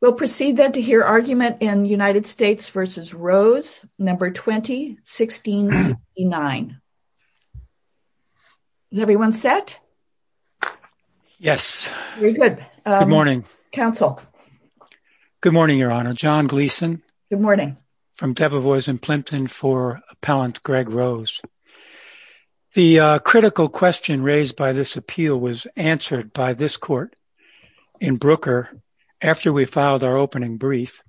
We'll proceed then to hear argument in United States v. Rose, No. 20, 1669. Is everyone set? Very good. Good morning. Counsel. Good morning, Your Honor. John Gleeson. Good morning. From Debevoise and Plimpton for Appellant Greg Rose. The critical question raised by this appeal was answered by this court in Brooker after we filed our opening brief.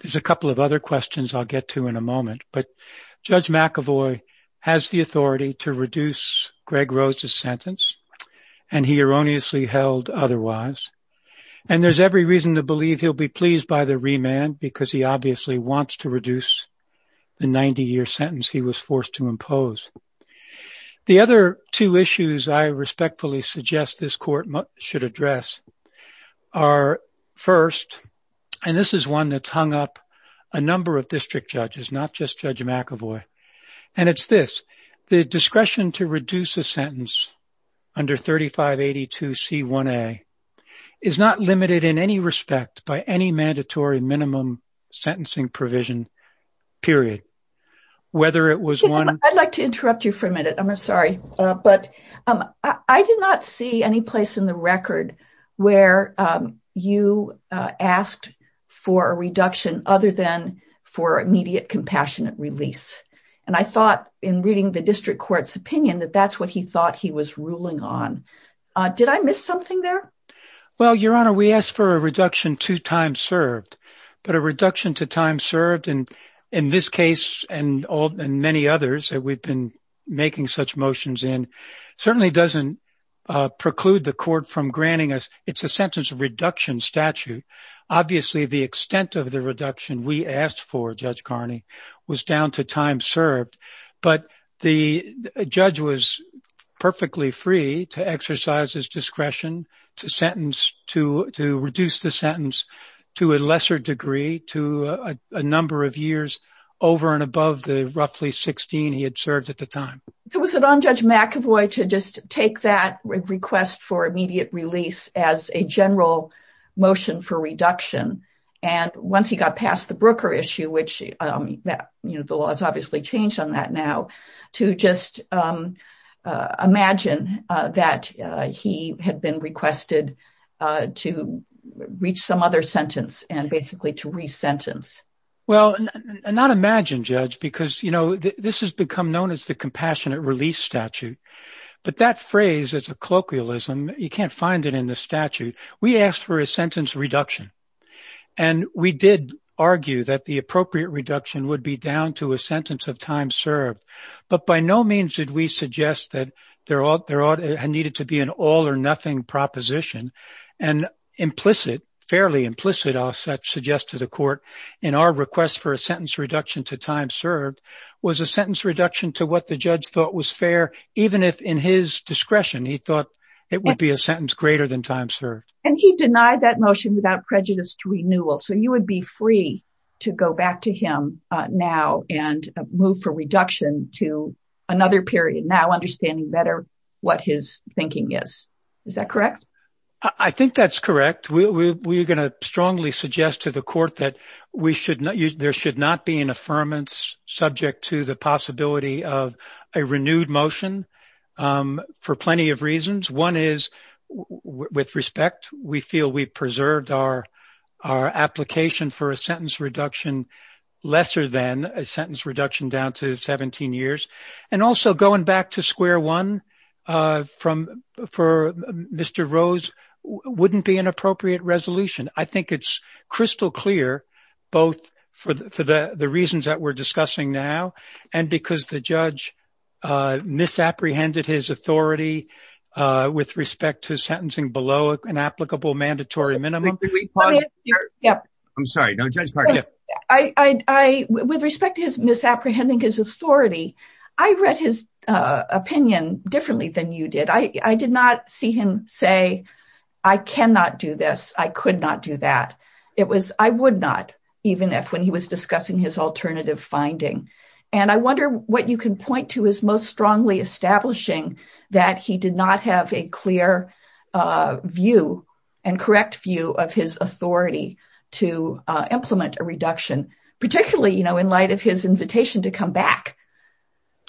There's a couple of other questions I'll get to in a moment. But Judge McAvoy has the authority to reduce Greg Rose's sentence. And he erroneously held otherwise. And there's every reason to believe he'll be pleased by the remand because he obviously wants to reduce the 90 year sentence he was forced to impose. The other two issues I respectfully suggest this court should address are first. And this is one that's hung up a number of district judges, not just Judge McAvoy. And it's this. The discretion to reduce a sentence under 3582 C1A is not limited in any respect by any mandatory minimum sentencing provision, period. I'd like to interrupt you for a minute. I'm sorry. But I did not see any place in the record where you asked for a reduction other than for immediate compassionate release. And I thought in reading the district court's opinion that that's what he thought he was ruling on. Did I miss something there? Well, Your Honor, we asked for a reduction to time served, but a reduction to time served. And in this case and many others that we've been making such motions in certainly doesn't preclude the court from granting us. It's a sentence reduction statute. Obviously, the extent of the reduction we asked for, Judge Carney, was down to time served. But the judge was perfectly free to exercise his discretion to sentence to to reduce the sentence to a lesser degree to a number of years over and above the roughly 16 he had served at the time. Was it on Judge McAvoy to just take that request for immediate release as a general motion for reduction? And once he got past the Brooker issue, which the law has obviously changed on that now, to just imagine that he had been requested to reach some other sentence and basically to resentence. Well, not imagine, Judge, because, you know, this has become known as the compassionate release statute. But that phrase is a colloquialism. You can't find it in the statute. We asked for a sentence reduction. And we did argue that the appropriate reduction would be down to a sentence of time served. But by no means did we suggest that there ought there ought to have needed to be an all or nothing proposition. And implicit, fairly implicit, I'll suggest to the court in our request for a sentence reduction to time served was a sentence reduction to what the judge thought was fair, even if in his discretion, he thought it would be a sentence greater than time served. And he denied that motion without prejudice to renewal. So you would be free to go back to him now and move for reduction to another period now understanding better what his thinking is. Is that correct? I think that's correct. We are going to strongly suggest to the court that we should there should not be an affirmance subject to the possibility of a renewed motion for plenty of reasons. One is with respect. We feel we preserved our our application for a sentence reduction lesser than a sentence reduction down to 17 years. And also going back to square one from for Mr. Rose wouldn't be an appropriate resolution. I think it's crystal clear both for the reasons that we're discussing now and because the judge misapprehended his authority with respect to sentencing below an applicable mandatory minimum. Yeah, I'm sorry. No, I, with respect to his misapprehending his authority. I read his opinion differently than you did. I did not see him say, I cannot do this. I could not do that. It was I would not even if when he was discussing his alternative finding. And I wonder what you can point to his most strongly establishing that he did not have a clear view and correct view of his authority to implement a reduction, particularly, you know, in light of his invitation to come back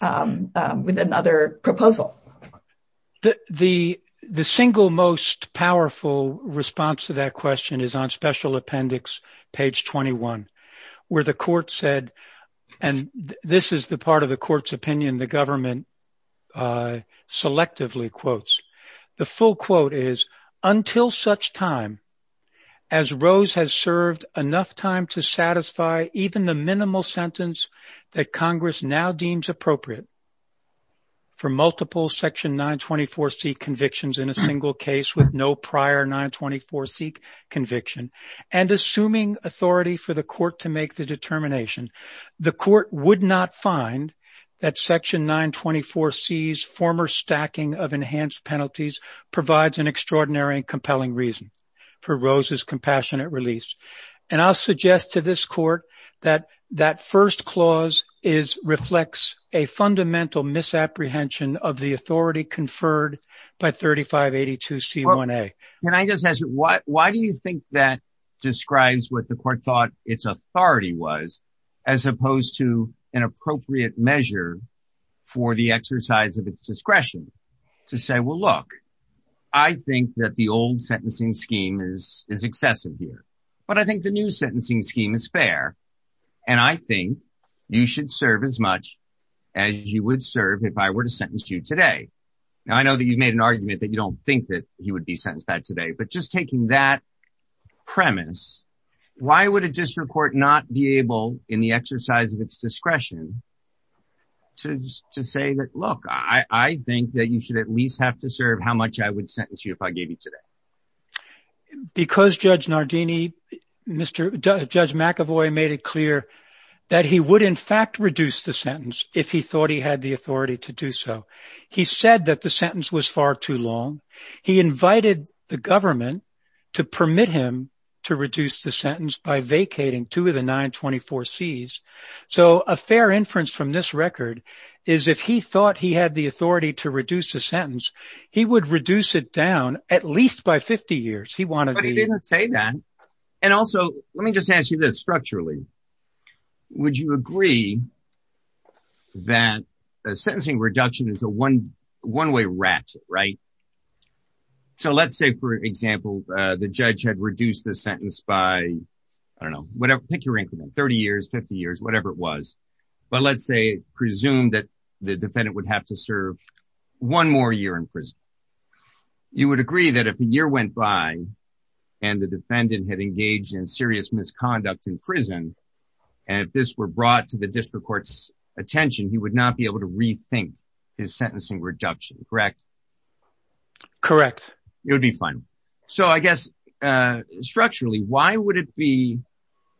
with another proposal. The the single most powerful response to that question is on special appendix, page 21, where the court said, and this is the part of the court's opinion, the government selectively quotes. The full quote is until such time as Rose has served enough time to satisfy even the minimal sentence that Congress now deems appropriate. For multiple section 924 C convictions in a single case with no prior 924 C conviction and assuming authority for the court to make the determination, the court would not find that section 924 C's former stacking of enhanced penalties provides an extraordinary and compelling reason for Rose's compassionate release. And I'll suggest to this court that that first clause is reflects a fundamental misapprehension of the authority conferred by 3582 C1A. Why do you think that describes what the court thought its authority was as opposed to an appropriate measure for the exercise of its discretion to say, well, look, I think that the old sentencing scheme is excessive here. But I think the new sentencing scheme is fair, and I think you should serve as much as you would serve if I were to sentence you today. Now, I know that you've made an argument that you don't think that he would be sentenced that today. But just taking that premise, why would a district court not be able in the exercise of its discretion to say that, look, I think that you should at least have to serve how much I would sentence you if I gave you today? Because Judge Nardini, Mr. Judge McAvoy made it clear that he would in fact reduce the sentence if he thought he had the authority to do so. He said that the sentence was far too long. He invited the government to permit him to reduce the sentence by vacating two of the 924 C's. So a fair inference from this record is if he thought he had the authority to reduce the sentence, he would reduce it down at least by 50 years. He wanted to say that. And also, let me just ask you this structurally. Would you agree that a sentencing reduction is a one one way rat? Right. So let's say, for example, the judge had reduced the sentence by, I don't know, whatever. Take your income in 30 years, 50 years, whatever it was. But let's say presume that the defendant would have to serve one more year in prison. You would agree that if a year went by and the defendant had engaged in serious misconduct in prison and if this were brought to the district court's attention, he would not be able to rethink his sentencing reduction. Correct? Correct. It would be fine. So I guess structurally, why would it be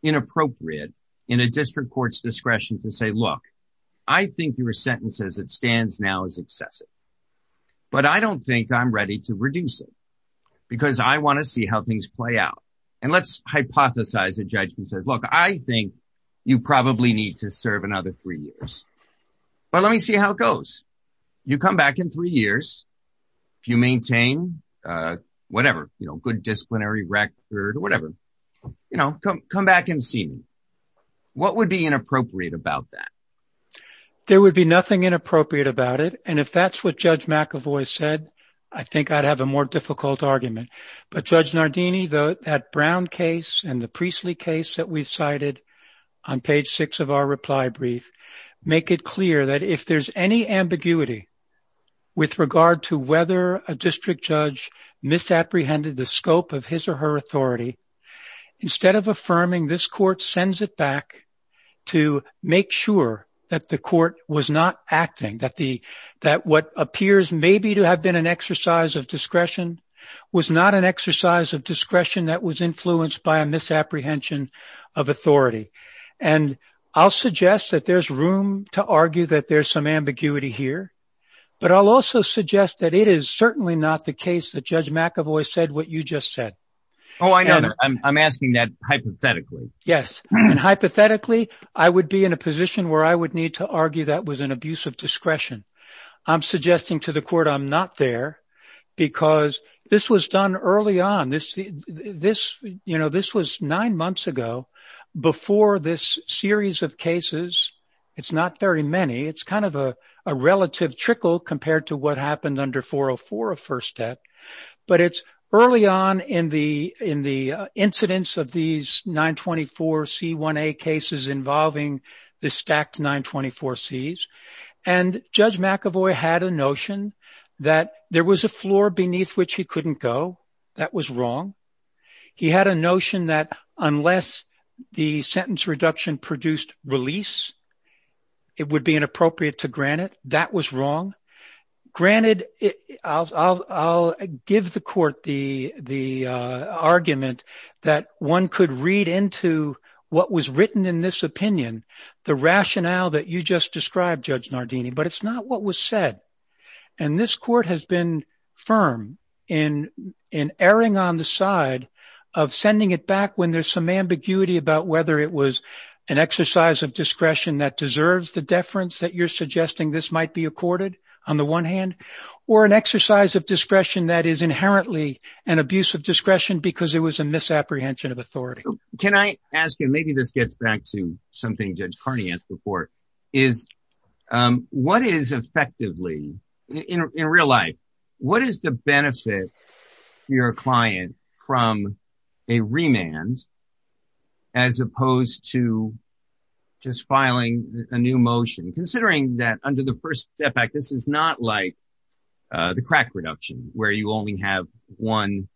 inappropriate in a district court's discretion to say, look, I think your sentence as it stands now is excessive. But I don't think I'm ready to reduce it because I want to see how things play out. And let's hypothesize a judgment says, look, I think you probably need to serve another three years. You come back in three years. If you maintain whatever, you know, good disciplinary record or whatever, you know, come back and see me. What would be inappropriate about that? There would be nothing inappropriate about it. And if that's what Judge McAvoy said, I think I'd have a more difficult argument. But Judge Nardini, that Brown case and the Priestly case that we cited on page six of our reply brief make it clear that if there's any ambiguity with regard to whether a district judge misapprehended the scope of his or her authority, instead of affirming this court sends it back to make sure that the court was not acting, that the that what appears maybe to have been an exercise of discretion was not an exercise of discretion that was influenced by a misapprehension of authority. And I'll suggest that there's room to argue that there's some ambiguity here. But I'll also suggest that it is certainly not the case that Judge McAvoy said what you just said. Oh, I know that. I'm asking that hypothetically. Yes. And hypothetically, I would be in a position where I would need to argue that was an abuse of discretion. I'm suggesting to the court I'm not there because this was done early on this. This you know, this was nine months ago before this series of cases. It's not very many. It's kind of a relative trickle compared to what happened under 404 of first step. But it's early on in the in the incidents of these 924 C1A cases involving the stacked 924 C's. And Judge McAvoy had a notion that there was a floor beneath which he couldn't go. That was wrong. He had a notion that unless the sentence reduction produced release. It would be inappropriate to grant it. That was wrong. Granted, I'll give the court the the argument that one could read into what was written in this opinion. The rationale that you just described, Judge Nardini, but it's not what was said. And this court has been firm in in erring on the side of sending it back when there's some ambiguity about whether it was an exercise of discretion that deserves the deference that you're suggesting this might be accorded. On the one hand, or an exercise of discretion that is inherently an abuse of discretion because it was a misapprehension of authority. Can I ask you, maybe this gets back to something Judge Carney asked before, is what is effectively in real life? What is the benefit your client from a remand as opposed to just filing a new motion? Considering that under the First Step Act, this is not like the crack reduction where you only have one.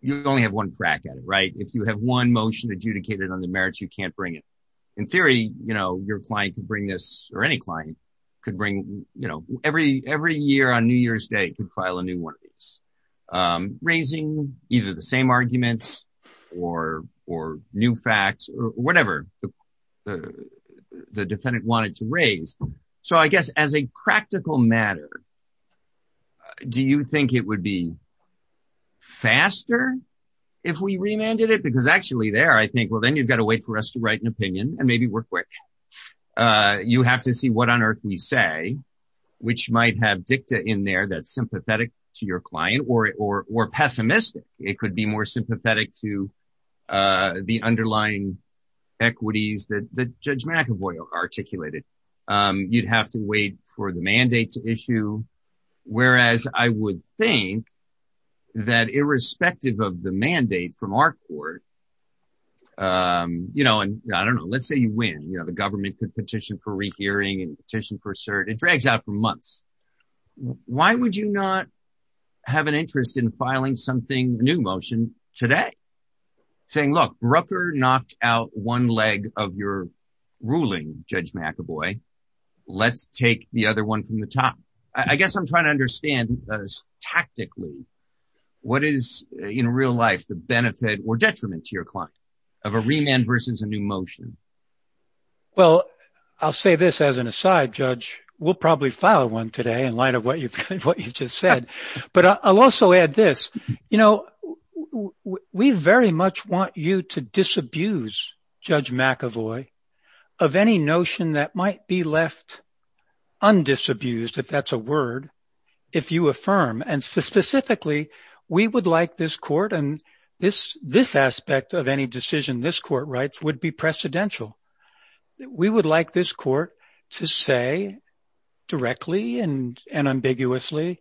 You only have one crack at it, right? If you have one motion adjudicated on the merits, you can't bring it. In theory, you know, your client can bring this or any client could bring, you know, every every year on New Year's Day could file a new one. Raising either the same arguments or or new facts or whatever the defendant wanted to raise. So I guess as a practical matter, do you think it would be faster if we remanded it? Because actually there I think, well, then you've got to wait for us to write an opinion and maybe we're quick. You have to see what on earth we say, which might have dicta in there that's sympathetic to your client or or pessimistic. It could be more sympathetic to the underlying equities that Judge McAvoy articulated. You'd have to wait for the mandate to issue. Whereas I would think that irrespective of the mandate from our court, you know, and I don't know, let's say you win. The government could petition for rehearing and petition for cert. It drags out for months. Why would you not have an interest in filing something new motion today? Saying, look, Rucker knocked out one leg of your ruling, Judge McAvoy. Let's take the other one from the top. I guess I'm trying to understand tactically what is in real life the benefit or detriment to your client of a remand versus a new motion. Well, I'll say this as an aside, Judge, we'll probably file one today in light of what you've just said, but I'll also add this. You know, we very much want you to disabuse Judge McAvoy of any notion that might be left undisabused, if that's a word, if you affirm. And specifically, we would like this court and this aspect of any decision this court writes would be precedential. We would like this court to say directly and ambiguously,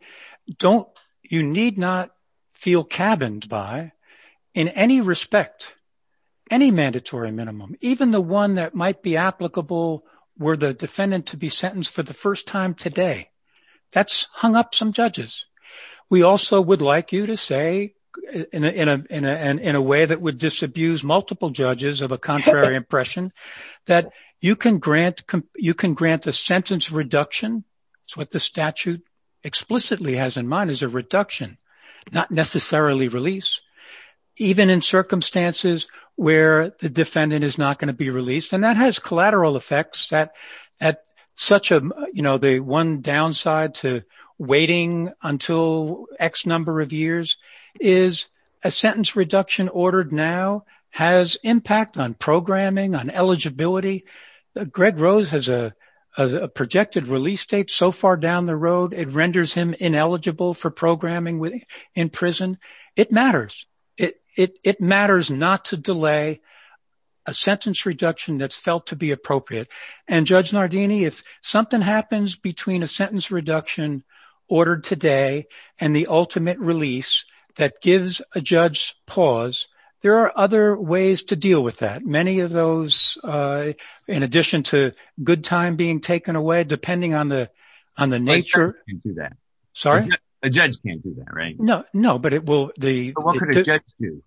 don't you need not feel cabined by in any respect, any mandatory minimum. Even the one that might be applicable were the defendant to be sentenced for the first time today. That's hung up some judges. We also would like you to say in a way that would disabuse multiple judges of a contrary impression that you can grant you can grant a sentence reduction. It's what the statute explicitly has in mind is a reduction, not necessarily release, even in circumstances where the defendant is not going to be released. And that has collateral effects that at such a you know, the one downside to waiting until X number of years is a sentence reduction ordered now has impact on programming, on eligibility. Greg Rose has a projected release date so far down the road. It renders him ineligible for programming in prison. It matters. It matters not to delay a sentence reduction that's felt to be appropriate. And Judge Nardini, if something happens between a sentence reduction ordered today and the ultimate release that gives a judge pause, there are other ways to deal with that. Many of those, in addition to good time being taken away, depending on the on the nature of that. Sorry, a judge can't do that, right? No, no, but it will the judge do.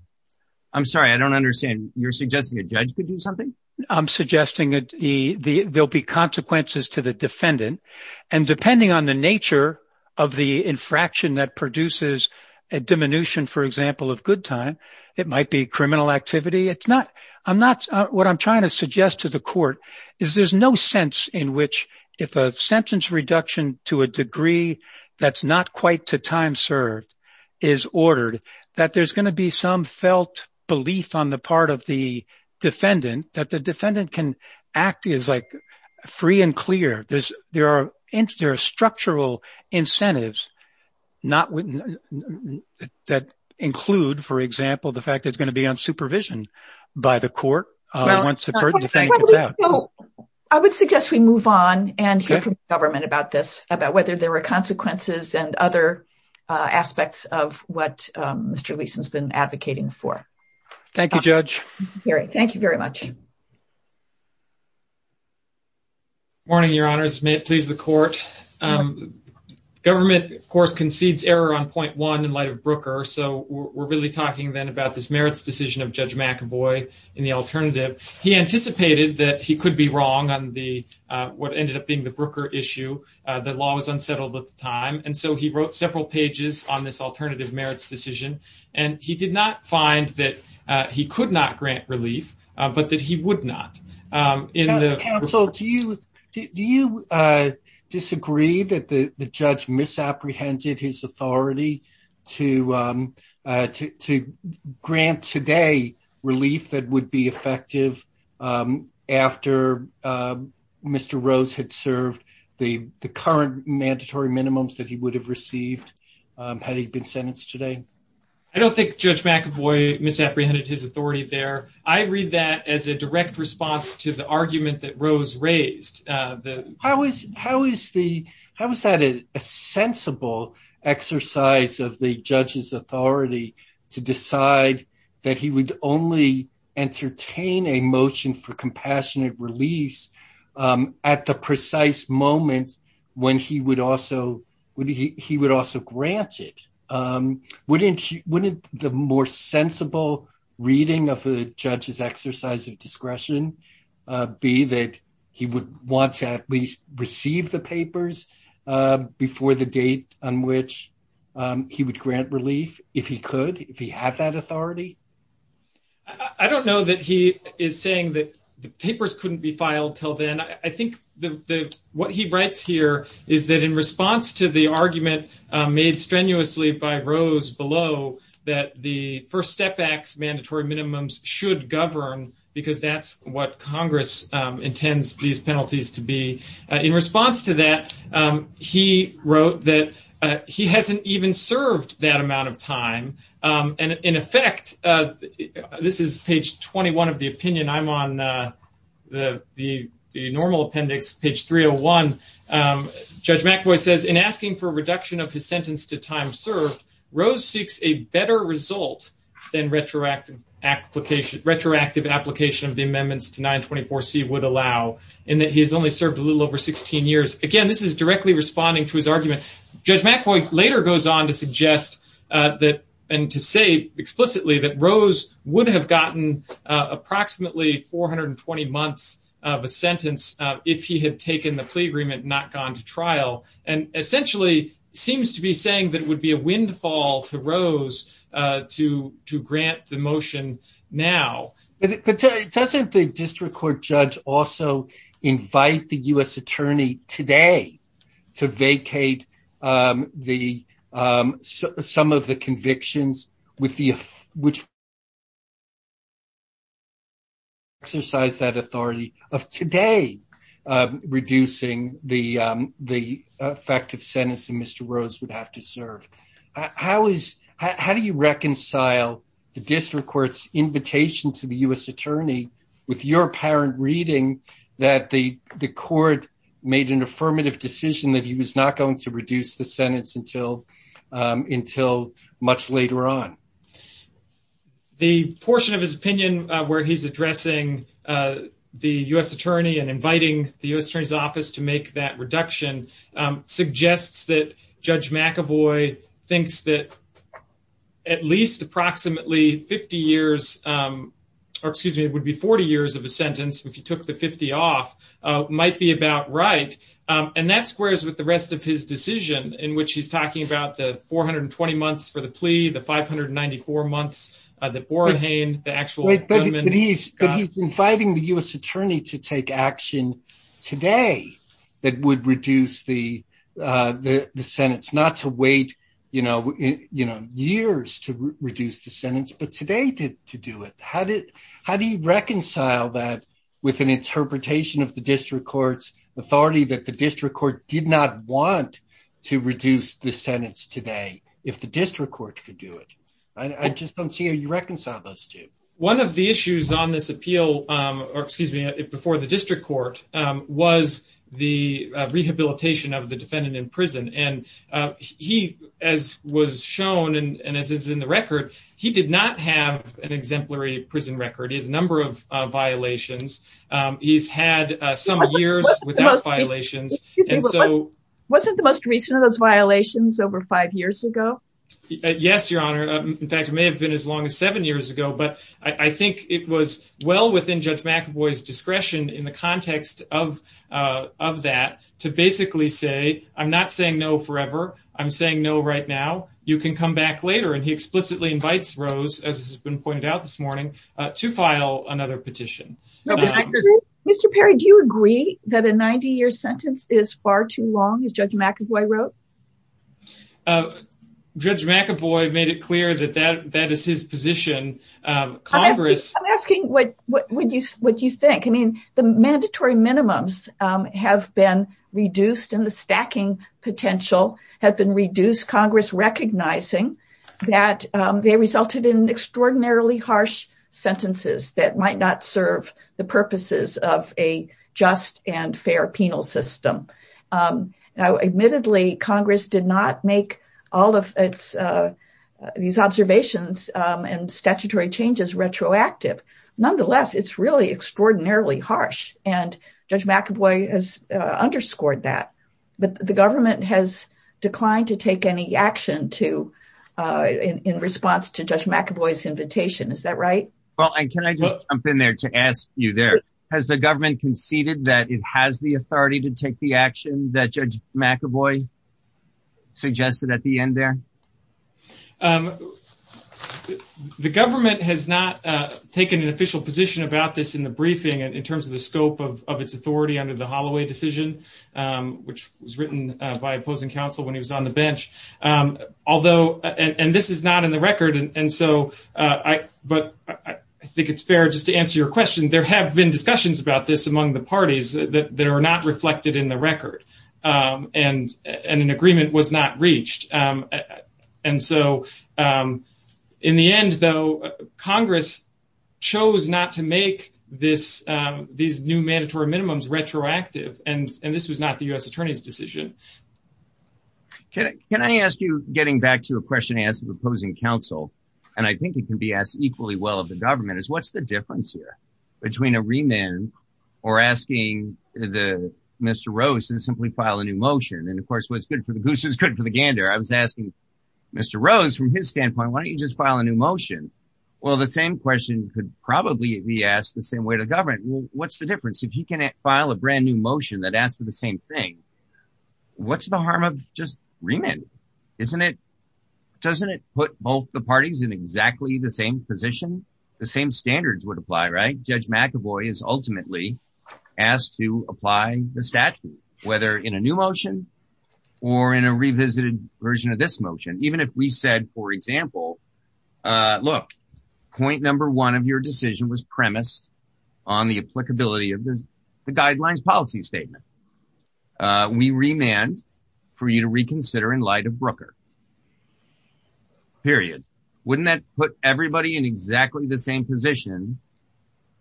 I'm sorry, I don't understand. You're suggesting a judge could do something. I'm suggesting that the there'll be consequences to the defendant. And depending on the nature of the infraction that produces a diminution, for example, of good time, it might be criminal activity. It's not I'm not what I'm trying to suggest to the court is there's no sense in which if a sentence reduction to a degree that's not quite to time served is ordered that there's going to be some felt belief on the part of the defendant that the defendant can act is like free and clear. There's there are there are structural incentives not that include, for example, the fact it's going to be on supervision by the court. I would suggest we move on and hear from the government about this, about whether there were consequences and other aspects of what Mr. Leeson has been advocating for. Thank you, Judge. Thank you very much. Morning, Your Honors. May it please the court. Government, of course, concedes error on point one in light of Brooker. So we're really talking then about this merits decision of Judge McAvoy in the alternative. He anticipated that he could be wrong on the what ended up being the Brooker issue. The law was unsettled at the time. And so he wrote several pages on this alternative merits decision. And he did not find that he could not grant relief, but that he would not. Counsel, do you do you disagree that the judge misapprehended his authority to to grant today relief that would be effective after Mr. Rose had served the current mandatory minimums that he would have received had he been sentenced today? I don't think Judge McAvoy misapprehended his authority there. I read that as a direct response to the argument that Rose raised. How is that a sensible exercise of the judge's authority to decide that he would only entertain a motion for compassionate release at the precise moment when he would also grant it? Wouldn't the more sensible reading of the judge's exercise of discretion be that he would want to at least receive the papers before the date on which he would grant relief if he could, if he had that authority? I don't know that he is saying that the papers couldn't be filed till then. I think that what he writes here is that in response to the argument made strenuously by Rose below that the First Step Act's mandatory minimums should govern because that's what Congress intends these penalties to be. In response to that, he wrote that he hasn't even served that amount of time and in effect, this is page 21 of the opinion, I'm on the normal appendix, page 301. Judge McAvoy says, in asking for a reduction of his sentence to time served, Rose seeks a better result than retroactive application of the amendments to 924C would allow in that he has only served a little over 16 years. Again, this is directly responding to his argument. Judge McAvoy later goes on to suggest that and to say explicitly that Rose would have gotten approximately 420 months of a sentence if he had taken the plea agreement and not gone to trial and essentially seems to be saying that it would be a windfall to Rose to grant the motion now. But doesn't the district court judge also invite the U.S. attorney today to vacate some of the convictions which exercise that authority of today reducing the effective sentence that Mr. Rose would have to serve? How do you reconcile the district court's invitation to the U.S. attorney with your apparent reading that the court made an affirmative decision that he was not going to reduce the sentence until much later on? The portion of his opinion where he's addressing the U.S. attorney and inviting the U.S. attorney's office to make that reduction suggests that Judge McAvoy thinks that at least approximately 50 years, or excuse me, it would be 40 years of a sentence if he took the 50 off might be about right. And that squares with the rest of his decision in which he's talking about the 420 months for the plea, the 594 months, the Borahain, the actual gunman. But he's inviting the U.S. attorney to take action today that would reduce the sentence, not to wait years to reduce the sentence, but today to do it. How do you reconcile that with an interpretation of the district court's authority that the district court did not want to reduce the sentence today if the district court could do it? I just don't see how you reconcile those two. One of the issues on this appeal, or excuse me, before the district court, was the rehabilitation of the defendant in prison. And he, as was shown, and as is in the record, he did not have an exemplary prison record. He had a number of violations. He's had some years without violations. Wasn't the most recent of those violations over five years ago? Yes, Your Honor. In fact, it may have been as long as seven years ago. But I think it was well within Judge McAvoy's discretion in the context of that to basically say, I'm not saying no forever. I'm saying no right now. You can come back later. And he explicitly invites Rose, as has been pointed out this morning, to file another petition. Mr. Perry, do you agree that a 90-year sentence is far too long, as Judge McAvoy wrote? Judge McAvoy made it clear that that is his position. I'm asking what you think. I mean, the mandatory minimums have been reduced, and the stacking potential has been reduced, Congress recognizing that they resulted in extraordinarily harsh sentences that might not serve the purposes of a just and fair penal system. Admittedly, Congress did not make all of these observations and statutory changes retroactive. Nonetheless, it's really extraordinarily harsh. And Judge McAvoy has underscored that. But the government has declined to take any action in response to Judge McAvoy's invitation. Is that right? Well, can I just jump in there to ask you there? Has the government conceded that it has the authority to take the action that Judge McAvoy suggested at the end there? The government has not taken an official position about this in the briefing in terms of the scope of its authority under the Holloway decision, which was written by opposing counsel when he was on the bench. And this is not in the record. But I think it's fair just to answer your question. There have been discussions about this among the parties that are not reflected in the record and an agreement was not reached. And so in the end, though, Congress chose not to make these new mandatory minimums retroactive. And this was not the U.S. attorney's decision. Can I ask you, getting back to a question asked of opposing counsel? And I think it can be asked equally well of the government is what's the difference here between a remand or asking the Mr. Rose and simply file a new motion? And of course, what's good for the goose is good for the gander. I was asking Mr. Rose from his standpoint, why don't you just file a new motion? Well, the same question could probably be asked the same way to government. What's the difference? If you can file a brand new motion that asked for the same thing, what's the harm of just remand? Isn't it? Doesn't it put both the parties in exactly the same position? The same standards would apply. Right. Judge McAvoy is ultimately asked to apply the statute, whether in a new motion or in a revisited version of this motion. Even if we said, for example, look, point number one of your decision was premised on the applicability of the guidelines policy statement. We remand for you to reconsider in light of Brooker. Period. Wouldn't that put everybody in exactly the same position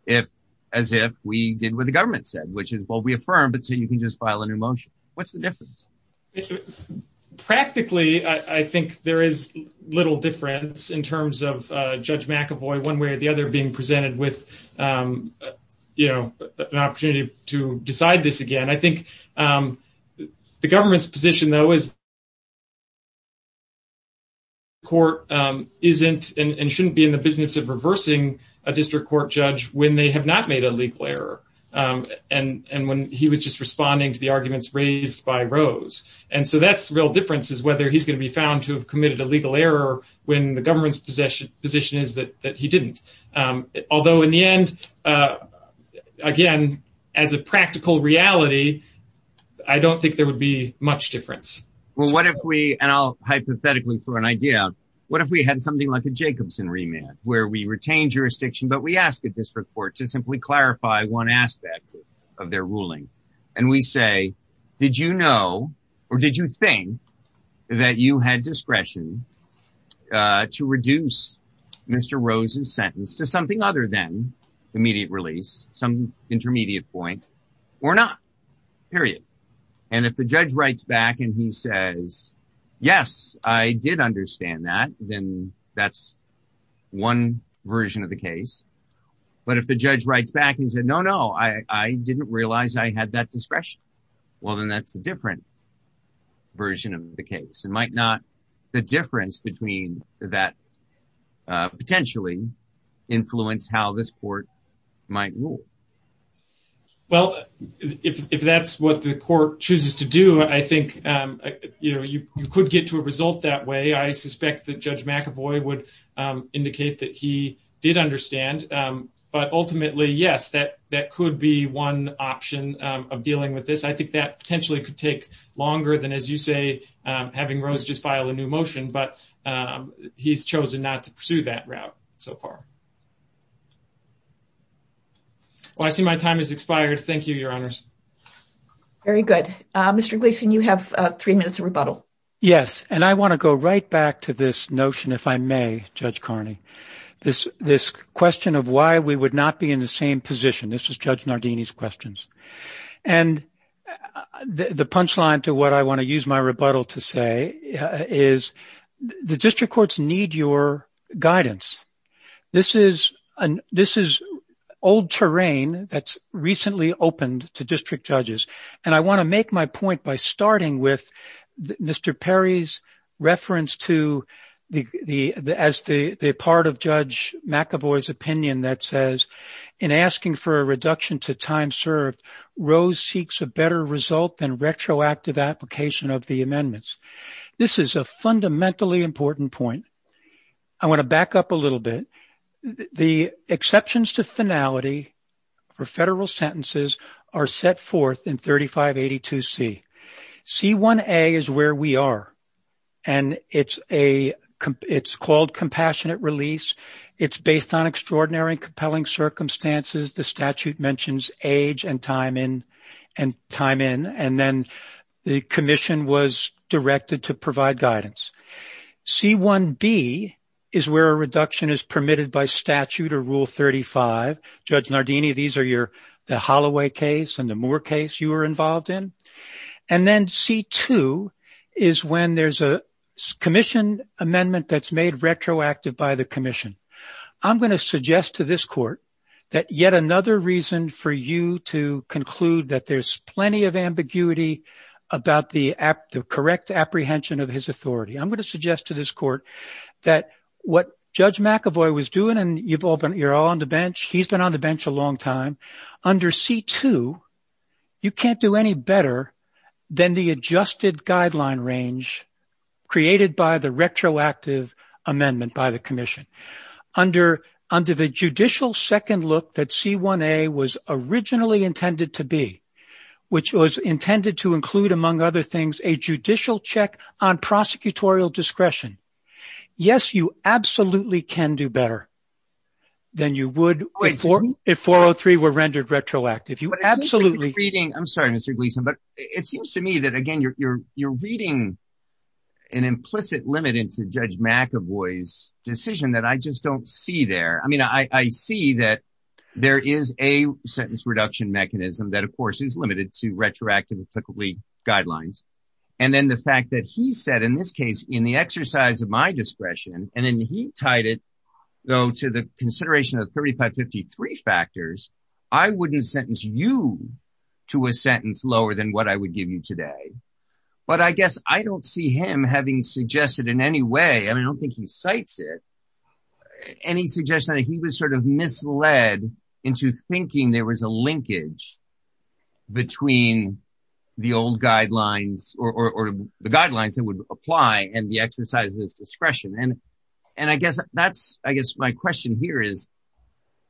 if as if we did what the government said, which is what we affirm. But so you can just file a new motion. What's the difference? Practically, I think there is little difference in terms of Judge McAvoy one way or the other being presented with an opportunity to decide this again. I think the government's position, though, is. Court isn't and shouldn't be in the business of reversing a district court judge when they have not made a legal error. And when he was just responding to the arguments raised by Rose. And so that's the real difference is whether he's going to be found to have committed a legal error when the government's position position is that he didn't. Although in the end, again, as a practical reality, I don't think there would be much difference. Well, what if we and I'll hypothetically for an idea, what if we had something like a Jacobson remand where we retained jurisdiction, but we asked the district court to simply clarify one aspect of their ruling and we say, did you know or did you think that you had discretion to reduce Mr. Rose's sentence to something other than immediate release, some intermediate point or not period. And if the judge writes back and he says, yes, I did understand that, then that's one version of the case. But if the judge writes back and said, no, no, I didn't realize I had that discretion. Well, then that's a different version of the case. It might not the difference between that potentially influence how this court might rule. Well, if that's what the court chooses to do, I think you could get to a result that way. I suspect that Judge McAvoy would indicate that he did understand. But ultimately, yes, that that could be one option of dealing with this. I think that potentially could take longer than, as you say, having Rose just file a new motion. But he's chosen not to pursue that route so far. I see my time has expired. Thank you, Your Honors. Very good. Mr. Gleason, you have three minutes of rebuttal. Yes. And I want to go right back to this notion, if I may, Judge Carney, this this question of why we would not be in the same position. This is Judge Nardini's questions. And the punchline to what I want to use my rebuttal to say is the district courts need your guidance. This is an this is old terrain that's recently opened to district judges. And I want to make my point by starting with Mr. Perry's reference to the as the part of Judge McAvoy's opinion that says in asking for a reduction to time served, Rose seeks a better result than retroactive application of the amendments. This is a fundamentally important point. I want to back up a little bit. The exceptions to finality for federal sentences are set forth in thirty five. Eighty two c c one a is where we are. And it's a it's called compassionate release. It's based on extraordinary and compelling circumstances. The statute mentions age and time in and time in. And then the commission was directed to provide guidance. C1B is where a reduction is permitted by statute or Rule thirty five. Judge Nardini, these are your the Holloway case and the Moore case you were involved in. And then C2 is when there's a commission amendment that's made retroactive by the commission. I'm going to suggest to this court that yet another reason for you to conclude that there's plenty of ambiguity about the correct apprehension of his authority. I'm going to suggest to this court that what Judge McAvoy was doing and you've all been you're all on the bench. He's been on the bench a long time under C2. You can't do any better than the adjusted guideline range created by the retroactive amendment by the commission under under the judicial second look that C1A was originally intended to be, which was intended to include, among other things, a judicial check on prosecutorial discretion. Yes, you absolutely can do better than you would wait for. If four or three were rendered retroactive, you absolutely reading. I'm sorry, Mr. Gleason, but it seems to me that, again, you're you're you're reading an implicit limit into Judge McAvoy's decision that I just don't see there. I mean, I see that there is a sentence reduction mechanism that, of course, is limited to retroactive applicable guidelines. And then the fact that he said in this case, in the exercise of my discretion, and then he tied it, though, to the consideration of thirty five fifty three factors, I wouldn't sentence you to a sentence lower than what I would give you today. But I guess I don't see him having suggested in any way. I mean, I don't think he cites it. Any suggestion that he was sort of misled into thinking there was a linkage between the old guidelines or the guidelines that would apply and the exercise of his discretion. And and I guess that's I guess my question here is,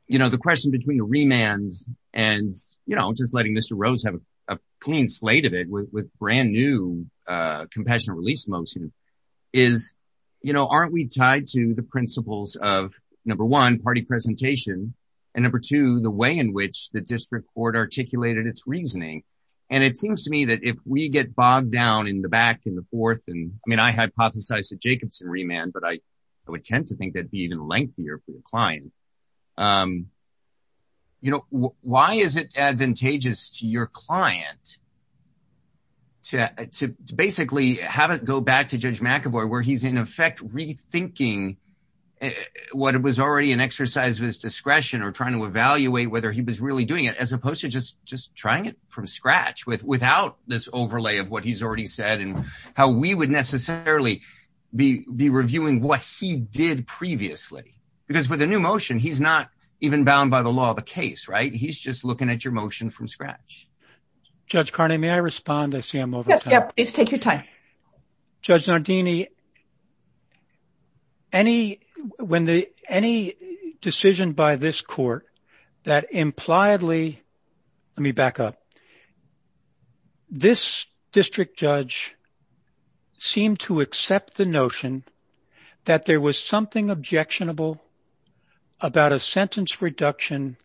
you know, the question between the remand and, you know, just letting Mr. Rose have a clean slate of it with brand new compassionate release motion is, you know, aren't we tied to the principles of, number one, party presentation and number two, the way in which the district court articulated its reasoning? And it seems to me that if we get bogged down in the back in the fourth and I mean, I hypothesize that Jacobson remand, but I would tend to think that'd be even lengthier for the client. You know, why is it advantageous to your client? To to basically have it go back to Judge McAvoy, where he's, in effect, rethinking what it was already an exercise of his discretion or trying to evaluate whether he was really doing it, as opposed to just just trying it from scratch with without this overlay of what he's already said and how we would necessarily be be reviewing what he did previously, because with a new motion, he's not even bound by the law of the case. Right. He's just looking at your motion from scratch. Judge Carney, may I respond? I see I'm over. Yes. Take your time. Judge Nardini. Any when the any decision by this court that impliedly let me back up. This district judge. Seem to accept the notion that there was something objectionable about a sentence reduction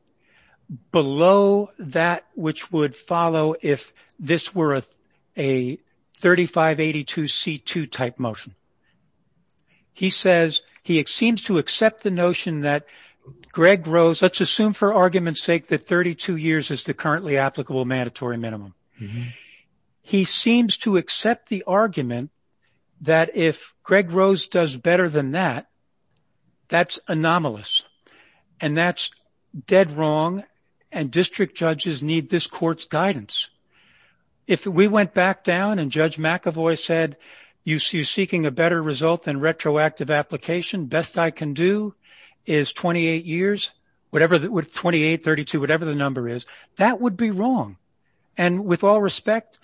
below that which would follow if this were a thirty five eighty two C2 type motion. He says he seems to accept the notion that Greg Rose, let's assume for argument's sake, that thirty two years is the currently applicable mandatory minimum. He seems to accept the argument that if Greg Rose does better than that, that's anomalous and that's dead wrong. And district judges need this court's guidance. If we went back down and Judge McAvoy said you see you seeking a better result than retroactive application. Best I can do is twenty eight years, whatever that would twenty eight, thirty two, whatever the number is, that would be wrong. And with all respect,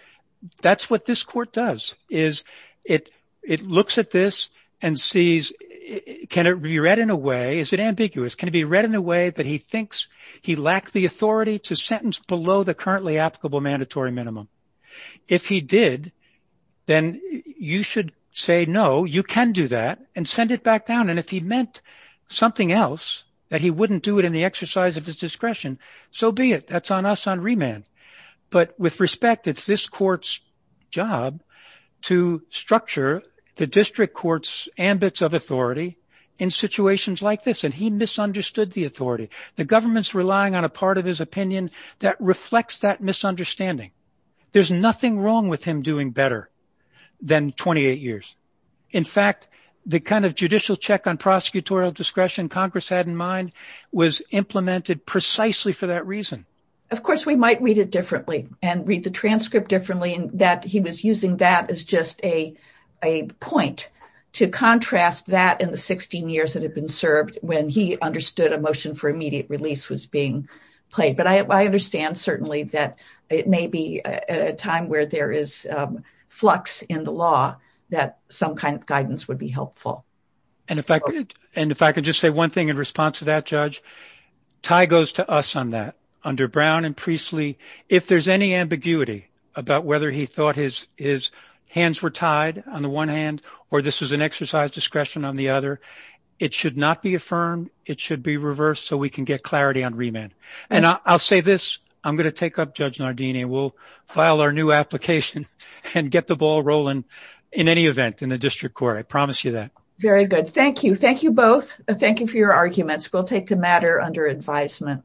that's what this court does is it it looks at this and sees it. Can it be read in a way? Is it ambiguous? Can it be read in a way that he thinks he lacked the authority to sentence below the currently applicable mandatory minimum? If he did, then you should say, no, you can do that and send it back down. And if he meant something else that he wouldn't do it in the exercise of his discretion. So be it. That's on us on remand. But with respect, it's this court's job to structure the district court's ambits of authority in situations like this. And he misunderstood the authority. The government's relying on a part of his opinion that reflects that misunderstanding. There's nothing wrong with him doing better than 28 years. In fact, the kind of judicial check on prosecutorial discretion Congress had in mind was implemented precisely for that reason. Of course, we might read it differently and read the transcript differently. And that he was using that as just a a point to contrast that in the 16 years that have been served. When he understood a motion for immediate release was being played. But I understand certainly that it may be a time where there is flux in the law that some kind of guidance would be helpful. And if I could just say one thing in response to that judge tie goes to us on that under Brown and Priestly. If there's any ambiguity about whether he thought his his hands were tied on the one hand or this is an exercise discretion on the other. It should not be affirmed. It should be reversed so we can get clarity on remand. And I'll say this. I'm going to take up Judge Nardini. We'll file our new application and get the ball rolling in any event in the district court. I promise you that. Very good. Thank you. Thank you both. Thank you for your arguments. We'll take the matter under advisement.